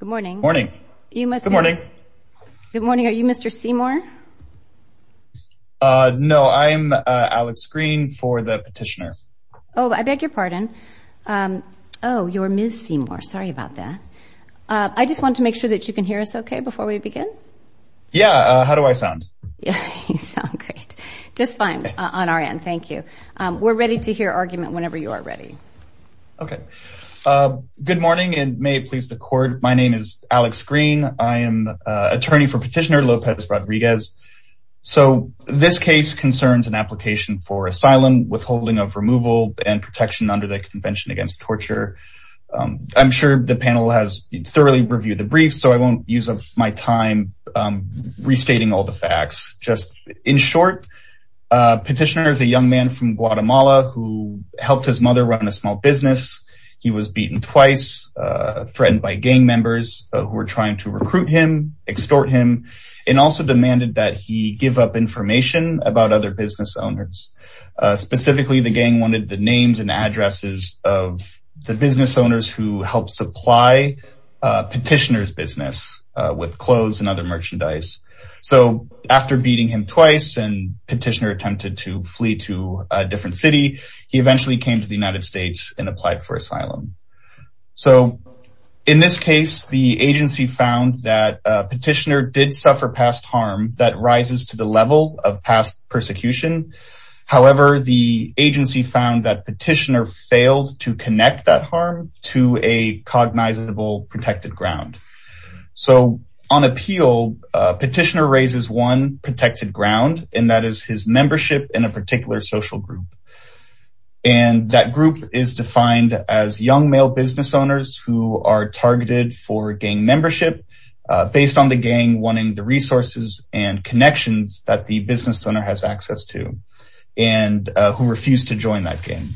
Good morning. Good morning. Good morning. Are you Mr. Seymour? No, I'm Alex Green for the petitioner. Oh, I beg your pardon. Oh, you're Ms. Seymour. Sorry about that. I just want to make sure that you can hear us okay before we begin? Yeah, how do I sound? You sound great. Just fine on our end. Thank you. We're ready to hear argument whenever you are ready. Okay. Good morning and may it please the court. My name is Alex Green. I am attorney for petitioner Lopez-Rodriguez. So this case concerns an application for asylum, withholding of removal and protection under the Convention Against Torture. I'm sure the panel has thoroughly Petitioner is a young man from Guatemala who helped his mother run a small business. He was beaten twice, threatened by gang members who were trying to recruit him, extort him, and also demanded that he give up information about other business owners. Specifically, the gang wanted the names and addresses of the business owners who helped supply petitioner's business with clothes and other merchandise. So after beating him twice and petitioner attempted to flee to a different city, he eventually came to the United States and applied for asylum. So in this case, the agency found that petitioner did suffer past harm that rises to the level of past persecution. However, the agency found that petitioner failed to connect that harm to a cognizable protected ground. So on appeal, petitioner raises one protected ground, and that is his membership in a particular social group. And that group is defined as young male business owners who are targeted for gang membership, based on the gang wanting the resources and connections that the business owner has access to, and who refused to join that game.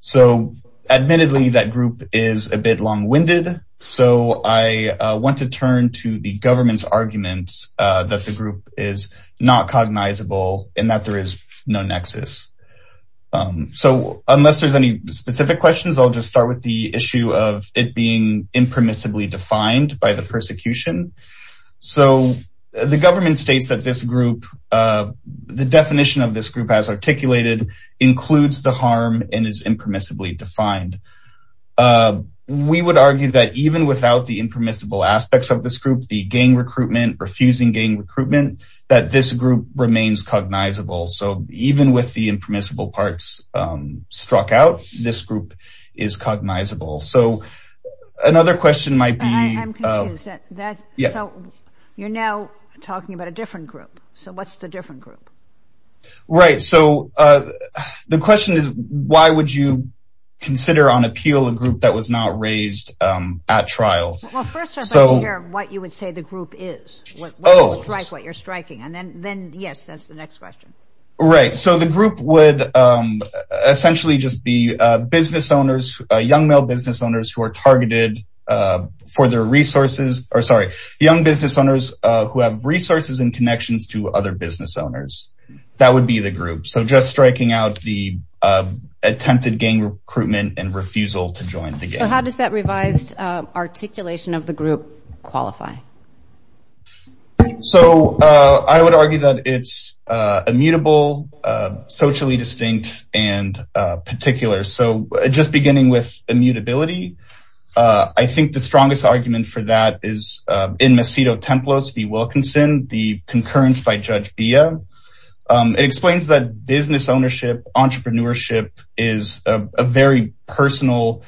So admittedly, that group is a bit long winded. So I want to turn to the government's arguments that the group is not cognizable and that there is no nexus. So unless there's any specific questions, I'll just start with the issue of it being impermissibly defined by the persecution. So the government states that this group, the definition of this group as articulated, includes the harm and is impermissibly defined. We would argue that even without the impermissible aspects of this group, the gang recruitment, refusing gang recruitment, that this group remains cognizable. So even with the impermissible parts struck out, this group is cognizable. So another question might be... I'm confused. You're now talking about a different group. So what's the different group? Right. So the question is, why would you consider on appeal a group that was not raised at trial? Well, first I'd like to hear what you would say the group is, what you're striking. And then yes, that's the next question. Right. So the group would essentially just be business owners, young male business owners who are targeted for their resources, or sorry, young business owners who have resources and connections to other business owners. That would be the group. So just striking out the attempted gang recruitment and refusal to join the gang. How does that revised articulation of the group qualify? So I would argue that it's immutable, socially distinct, and particular. So just beginning with immutability, I think the strongest argument for that is in Macedo-Templos v. Wilkinson, the concurrence by Judge Bia. It explains that business ownership, entrepreneurship is a very personal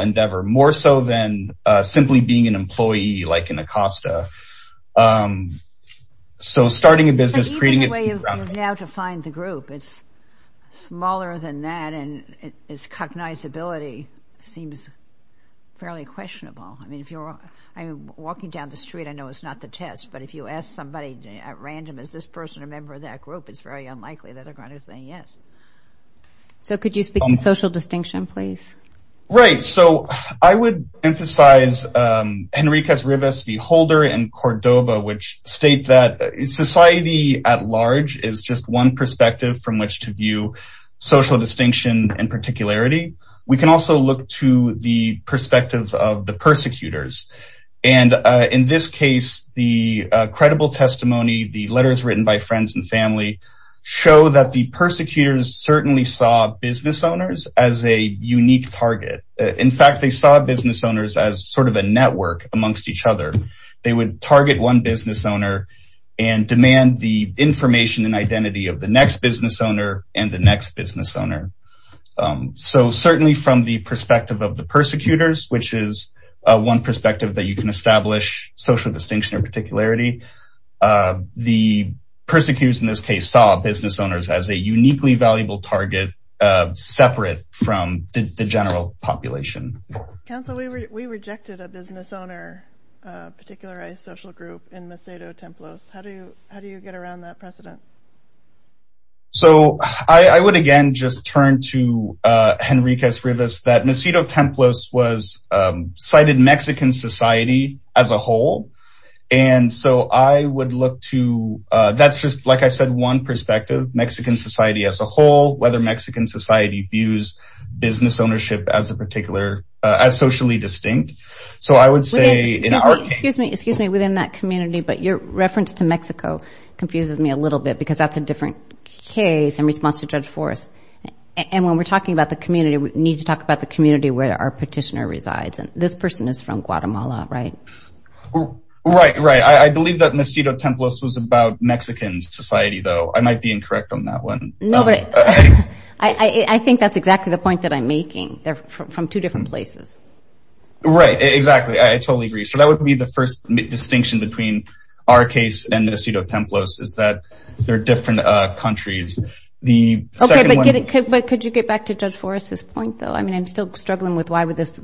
endeavor, more so than simply being an employee like in Acosta. So starting a business, creating it... So even the way you've now defined the group, it's smaller than that, and its cognizability seems fairly to me. It's not the test, but if you ask somebody at random, is this person a member of that group? It's very unlikely that they're going to say yes. So could you speak to social distinction, please? Right. So I would emphasize Henriquez-Rivas v. Holder and Cordoba, which state that society at large is just one perspective from which to view social distinction and particularity. We can also look to the perspective of the persecutors. And in this case, the credible testimony, the letters written by friends and family show that the persecutors certainly saw business owners as a unique target. In fact, they saw business owners as sort of a network amongst each other. They would target one business owner and demand the information and identity of the next business owner and the next business owner. So certainly from the perspective of the persecutors, which is one perspective that you can establish social distinction or particularity, the persecutors in this case saw business owners as a uniquely valuable target separate from the general population. Council, we rejected a business owner, a particularized social group in Macedo-Templos. How do you get around that precedent? So I would again just turn to Henriquez-Rivas that Macedo-Templos was cited Mexican society as a whole. And so I would look to that's just like I said, one perspective, Mexican society as a whole, whether Mexican society views business ownership as a particular, as socially distinct. So I would say, excuse me, within that community, but your reference to Mexico confuses me a little bit because that's a different case in response to Judge Forrest. And when we're talking about the community, we need to talk about the community where our petitioner resides. And this person is from Guatemala, right? Right, right. I believe that Macedo-Templos was about Mexican society though. I might be incorrect on that one. No, but I think that's exactly the point that I'm making. They're from two different places. Right, exactly. I totally agree. So that would be the first distinction between our case and is that they're different countries. But could you get back to Judge Forrest's point though? I mean, I'm still struggling with why would this,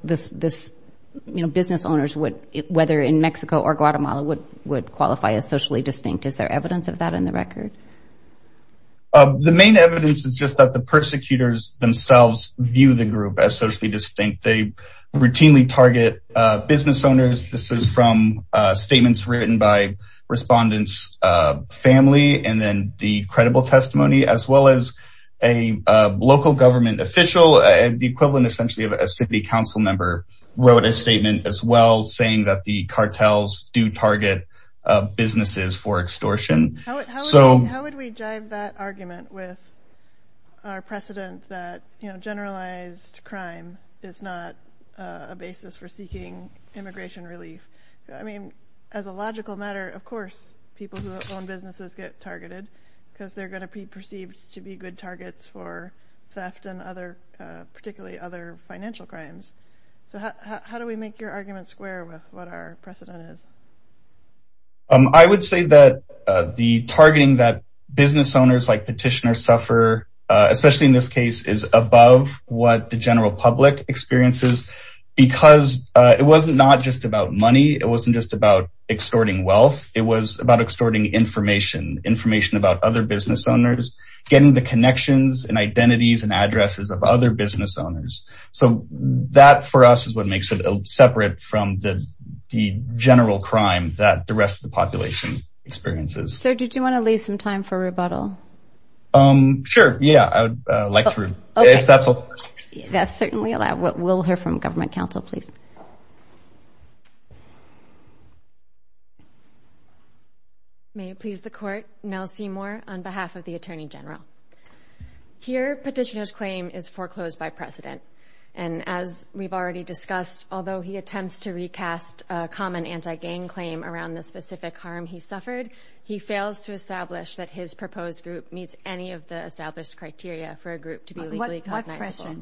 you know, business owners would, whether in Mexico or Guatemala, would qualify as socially distinct. Is there evidence of that in the record? The main evidence is just that the persecutors themselves view the group as socially distinct. They routinely target business owners. This is from statements written by respondents' family and then the credible testimony as well as a local government official, the equivalent essentially of a city council member, wrote a statement as well saying that the cartels do target businesses for extortion. How would we jive that argument with our precedent that, you know, generalized crime is not a basis for seeking immigration relief? I mean, as a logical matter, of course people who own businesses get targeted because they're going to be perceived to be good targets for theft and other, particularly other financial crimes. So how do we make your argument square with what our precedent is? I would say that the targeting that business owners like petitioners suffer, especially in this case, is above what the general public experiences because it wasn't not just about money. It wasn't just about extorting wealth. It was about extorting information, information about other business owners, getting the connections and identities and addresses of other business owners. So that for us is what makes it separate from the general crime that the rest of the population experiences. So did you want to leave some time for rebuttal? Um, sure. Yeah, I would like to. That's certainly allowed. We'll hear from Government Council, please. May it please the court. Nell Seymour on behalf of the Attorney General. Here, petitioner's claim is foreclosed by precedent. And as we've already discussed, although he attempts to recast a common anti-gang claim around the specific harm he suffered, he fails to establish that his proposed group meets any of the established criteria for a group to be legally cognizable.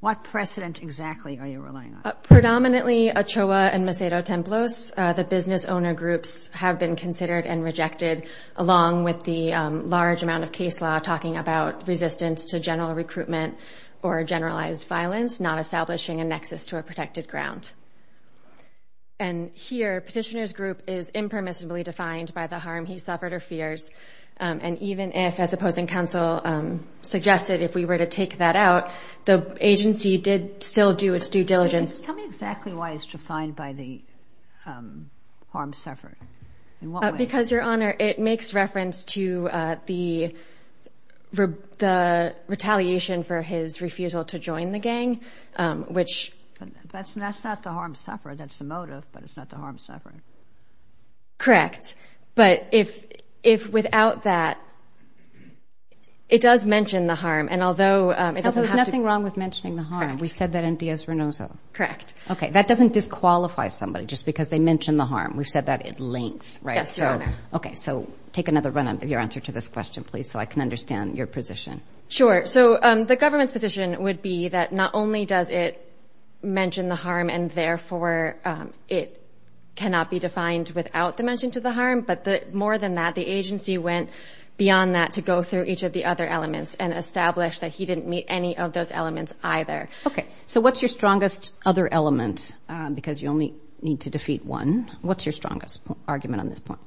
What precedent exactly are you relying on? Predominantly Ochoa and Macedo-Templos. The business owner groups have been considered and rejected along with the large amount of case law talking about resistance to general recruitment or generalized violence, not establishing a nexus to a protected ground. And here, petitioner's group is impermissibly defined by the harm he suffered or fears. And even if, as opposing counsel suggested, if we were to take that out, the agency did still do its due diligence. Tell me exactly why it's defined by the harm suffered. In what way? Because, Your Honor, it makes reference to the retaliation for his refusal to join the gang. That's not the harm suffered. That's the motive, but it's not the harm suffered. Correct. But if without that, it does mention the harm. And although... There's nothing wrong with mentioning the harm. We said that in Dias Renoso. Correct. Okay. That doesn't disqualify somebody just because they mentioned the harm. We've said that at length, right? Yes, Your Honor. Okay. So take another run at your answer to this question, please, so I can understand your position. Sure. So the government's position would be that not only does it mention the harm and therefore it cannot be defined without the mention to the harm, but more than that, the agency went beyond that to go through each of the other elements and establish that he didn't meet any of those elements either. Okay. So what's your strongest other element? Because you only need to defeat one. What's your strongest argument on this point?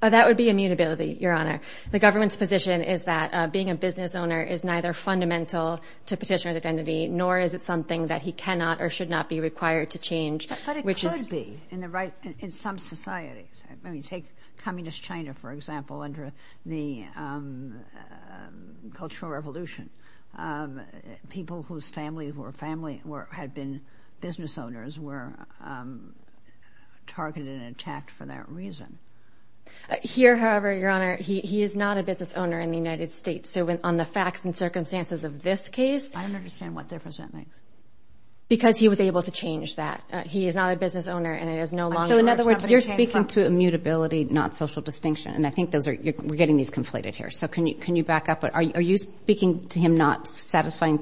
That would be immutability, Your Honor. The government's position is that being a business owner is neither fundamental to petitioner's identity, nor is it something that he cannot or should not be required to change, which is... But it could be in some societies. I mean, take communist China, for example, under the Cultural Revolution. People whose family had been business owners were here. However, Your Honor, he is not a business owner in the United States. So on the facts and circumstances of this case... I don't understand what difference that makes. Because he was able to change that. He is not a business owner and it is no longer... So in other words, you're speaking to immutability, not social distinction. And I think we're getting these conflated here. So can you back up? Are you speaking to him not satisfying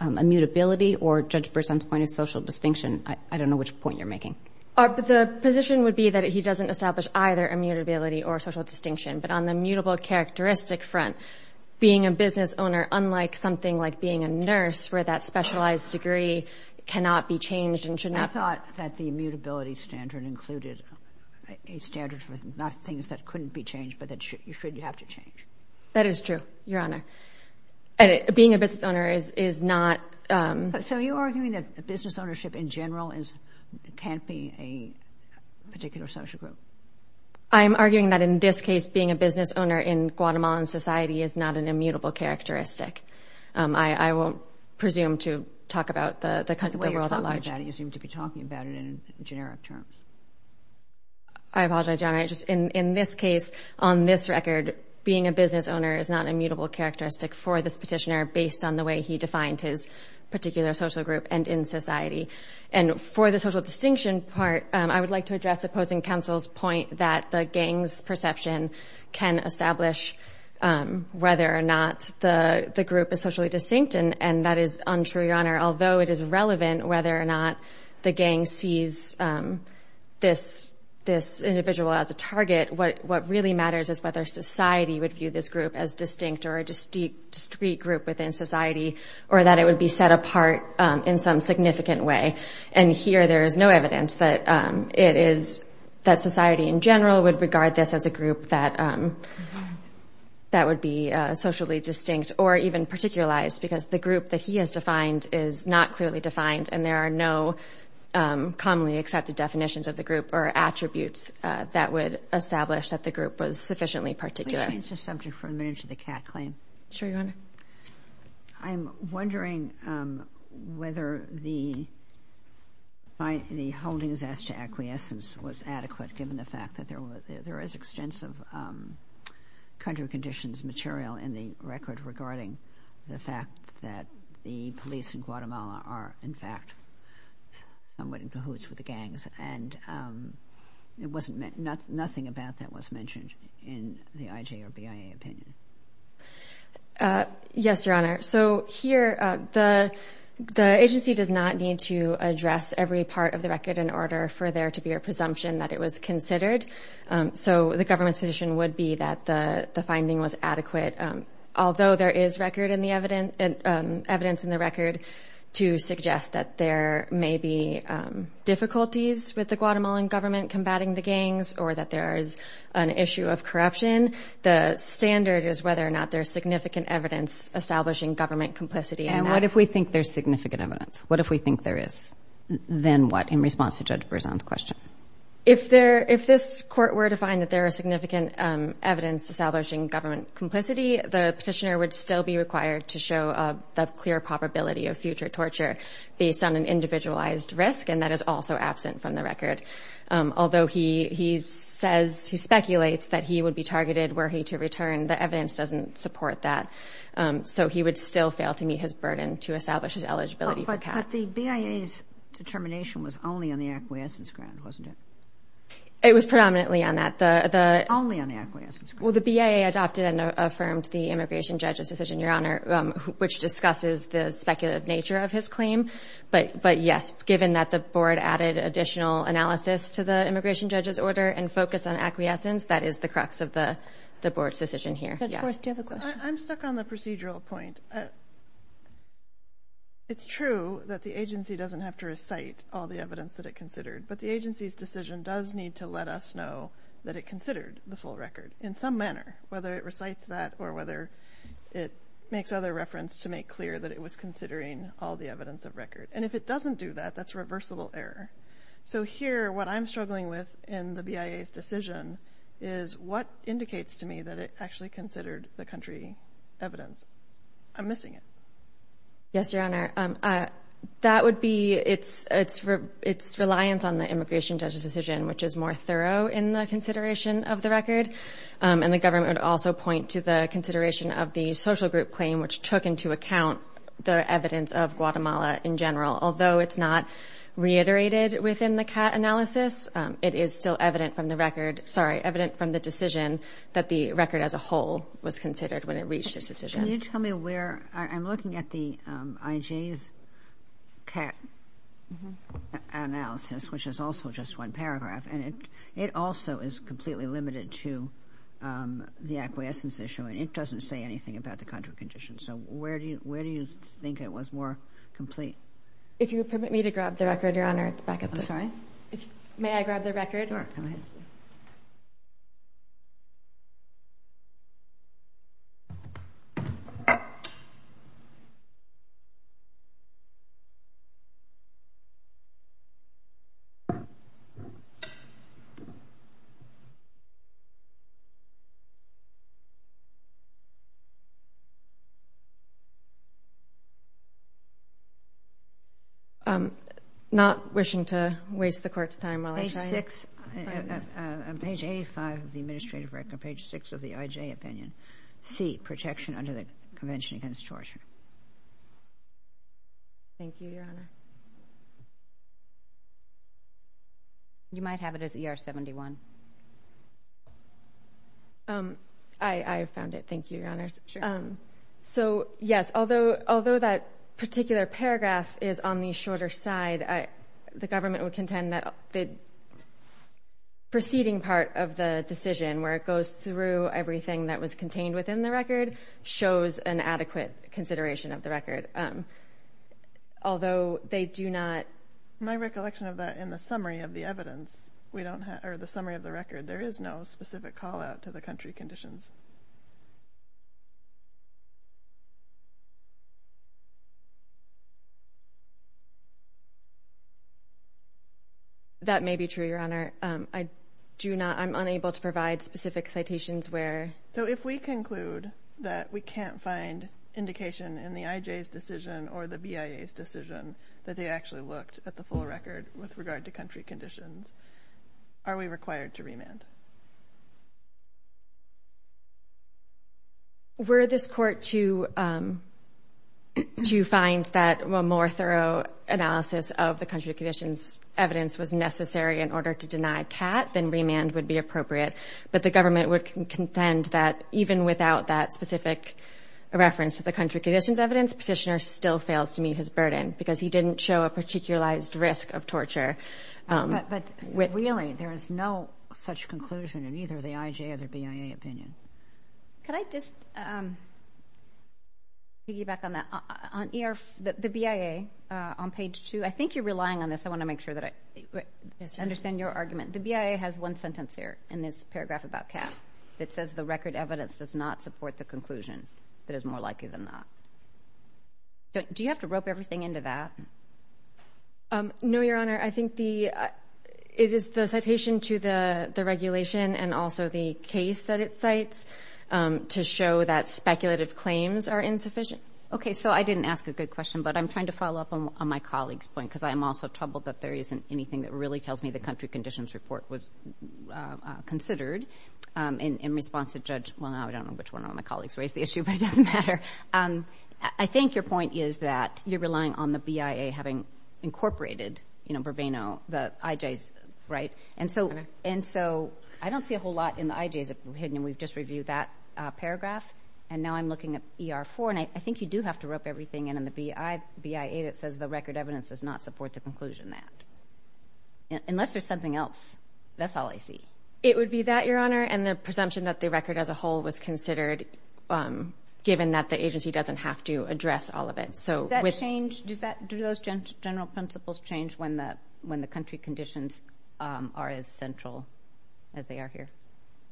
immutability or Judge Berzon's point of social distinction? I don't know which point you're making. The position would be that he doesn't establish either immutability or social distinction. But on the mutable characteristic front, being a business owner, unlike something like being a nurse where that specialized degree cannot be changed and should not... I thought that the immutability standard included a standard for not things that couldn't be changed, but that you should have to change. That is true, Your Honor. And being a business owner is not... So you're arguing that business ownership in general can't be a particular social group? I'm arguing that in this case, being a business owner in Guatemalan society is not an immutable characteristic. I won't presume to talk about the world at large. The way you're talking about it, you seem to be talking about it in generic terms. I apologize, Your Honor. In this case, on this record, being a business owner is not immutable characteristic for this petitioner based on the way he defined his particular social group and in society. And for the social distinction part, I would like to address the opposing counsel's point that the gang's perception can establish whether or not the group is socially distinct. And that is untrue, Your Honor. Although it is relevant whether or not the gang sees this individual as a target, what really matters is whether society would view this group as distinct or a discrete group within society, or that it would be set apart in some significant way. And here, there is no evidence that society in general would regard this as a group that would be socially distinct or even particularized because the group that he has defined is not clearly defined and there are no commonly accepted definitions of the group or attributes that would establish that the group was sufficiently particular. Let me change the subject for a minute to the Catt claim. Sure, Your Honor. I'm wondering whether the holdings as to acquiescence was adequate, given the fact that there is extensive country of conditions material in the record regarding the fact that the police in Guatemala are, in fact, somewhat in cahoots with the gangs. And it wasn't, nothing about that was mentioned in the IJ or BIA opinion. Yes, Your Honor. So here, the agency does not need to address every part of the record in order for there to be a presumption that it was considered. So the government's position would be that the in the record to suggest that there may be difficulties with the Guatemalan government combating the gangs or that there is an issue of corruption. The standard is whether or not there's significant evidence establishing government complicity. And what if we think there's significant evidence? What if we think there is? Then what in response to Judge Berzon's question? If this court were to find that there are significant evidence establishing government complicity, the petitioner would still be required to show the clear probability of future torture based on an individualized risk. And that is also absent from the record. Although he says, he speculates that he would be targeted were he to return, the evidence doesn't support that. So he would still fail to meet his burden to establish his eligibility. But the BIA's determination was only on the acquiescence ground, wasn't it? Only on the acquiescence ground. Well, the BIA adopted and affirmed the immigration judge's decision, Your Honor, which discusses the speculative nature of his claim. But yes, given that the board added additional analysis to the immigration judge's order and focus on acquiescence, that is the crux of the board's decision here. Judge Forrest, do you have a question? I'm stuck on the procedural point. It's true that the agency doesn't have to recite all the evidence that it considered, but the agency's decision does need to let us know that it considered the full record. In some manner, whether it recites that or whether it makes other reference to make clear that it was considering all the evidence of record. And if it doesn't do that, that's reversible error. So here, what I'm struggling with in the BIA's decision is what indicates to me that it actually considered the country evidence. I'm missing it. Yes, Your Honor. That would be its reliance on the immigration judge's decision, which is more thorough in the consideration of the record. And the government would also point to the consideration of the social group claim, which took into account the evidence of Guatemala in general. Although it's not reiterated within the CAT analysis, it is still evident from the record, sorry, evident from the decision that the record as a whole was considered when it reached its decision. Can you tell me where, I'm looking at the IJ's CAT analysis, which is also just one paragraph, and it also is completely limited to the acquiescence issue, and it doesn't say anything about the contra condition. So where do you think it was more complete? If you permit me to grab the record, Your Honor, it's back up there. I'm sorry? May I grab the record? Sure, go ahead. I'm not wishing to waste the Court's time while I try it. Page six, page 85 of the administrative record, page six of the IJ opinion. C, protection under the Convention Against Torture. Thank you, Your Honor. You might have it as ER 71. I found it. Thank you, Your Honor. So, yes, although that particular paragraph is on the shorter side, the government would contend that the preceding part of the decision, where it goes through everything that was contained within the record, shows an adequate consideration of the record, although they do not... My recollection of that, in the summary of the evidence, we don't have, or the summary of the record, there is no specific call-out to the country conditions. That may be true, Your Honor. I do not, I'm unable to provide specific citations where... So, if we conclude that we can't find indication in the IJ's decision or the BIA's decision that they actually looked at the full record with regard to country conditions, are we required to remand? Were this Court to find that a more thorough analysis of the country conditions evidence was necessary in order to deny CAT, then remand would be appropriate. But the government would contend that even without that specific reference to the country conditions evidence, Petitioner still fails to meet his burden, because he didn't show a particularized risk of torture. But really, there is no such conclusion in either the IJ or the BIA opinion. Could I just piggyback on that? On the BIA, on page two, I think you're relying on this. I want to make sure that I understand your argument. The BIA has one paragraph about CAT that says the record evidence does not support the conclusion that is more likely than not. Do you have to rope everything into that? No, Your Honor. I think it is the citation to the regulation and also the case that it cites to show that speculative claims are insufficient. Okay. So, I didn't ask a good question, but I'm trying to follow up on my colleague's point, because I'm also troubled that there isn't anything that really tells me the country in response to Judge, well, I don't know which one of my colleagues raised the issue, but it doesn't matter. I think your point is that you're relying on the BIA having incorporated, you know, Burbano, the IJs, right? And so, I don't see a whole lot in the IJs hidden, and we've just reviewed that paragraph. And now I'm looking at ER4, and I think you do have to rope everything in the BIA that says the record evidence does not support the conclusion that. Unless there's something else. That's all I see. It would be that, Your Honor, and the presumption that the record as a whole was considered, given that the agency doesn't have to address all of it. Does that change? Do those general principles change when the country conditions are as central as they are here?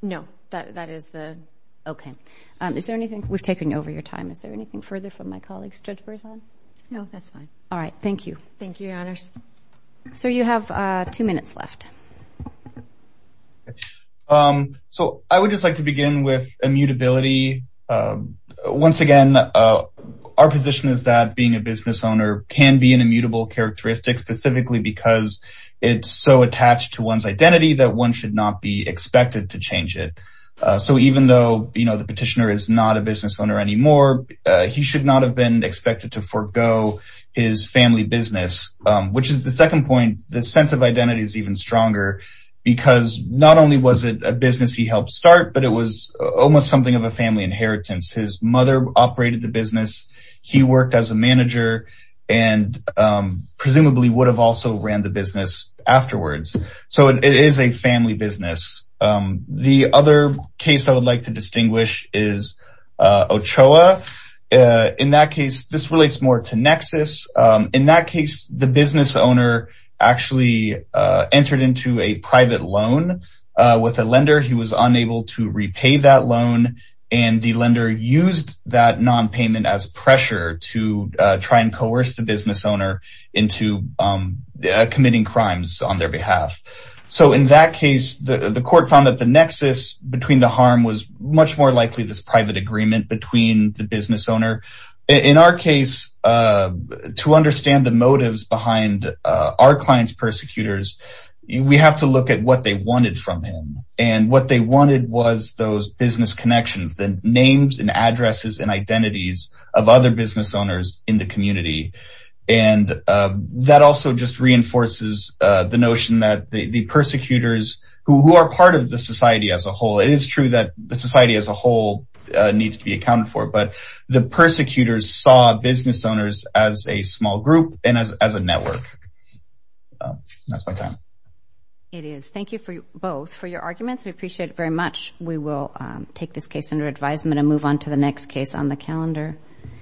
No. That is the. Okay. Is there anything? We've taken over your time. Is there anything further from my colleague's judgment? No, that's fine. All right. Thank you. Thank you, Your Honors. So, you have two minutes left. Okay. So, I would just like to begin with immutability. Once again, our position is that being a business owner can be an immutable characteristic, specifically because it's so attached to one's identity that one should not be expected to change it. So, even though, you know, the petitioner is not a business owner anymore, he should not have been expected to forego his family business, which is the second point. The sense of identity is even stronger because not only was it a business he helped start, but it was almost something of a family inheritance. His mother operated the business. He worked as a manager and presumably would have also ran the business afterwards. So, it is a family business. The other case I would like to distinguish is Ochoa. In that case, this relates more to Nexus. In that case, the business owner actually entered into a private loan with a lender. He was unable to repay that loan and the lender used that non-payment as pressure to try and coerce the business owner into committing crimes on their behalf. So, in that case, the court found that the Nexus between the harm was much more likely this private agreement between the business owner. In our case, to understand the motives behind our client's persecutors, we have to look at what they wanted from him. And what they wanted was those business connections, the names and addresses and identities of other business owners in the community. And that also just reinforces the notion that the persecutors, who are part of the society as a whole, it is true that the society as a whole needs to be accounted for. But the persecutors saw business owners as a small group and as a network. That's my time. It is. Thank you both for your arguments. We appreciate it very much. We will take this case under advisement and move on to the next case on the calendar.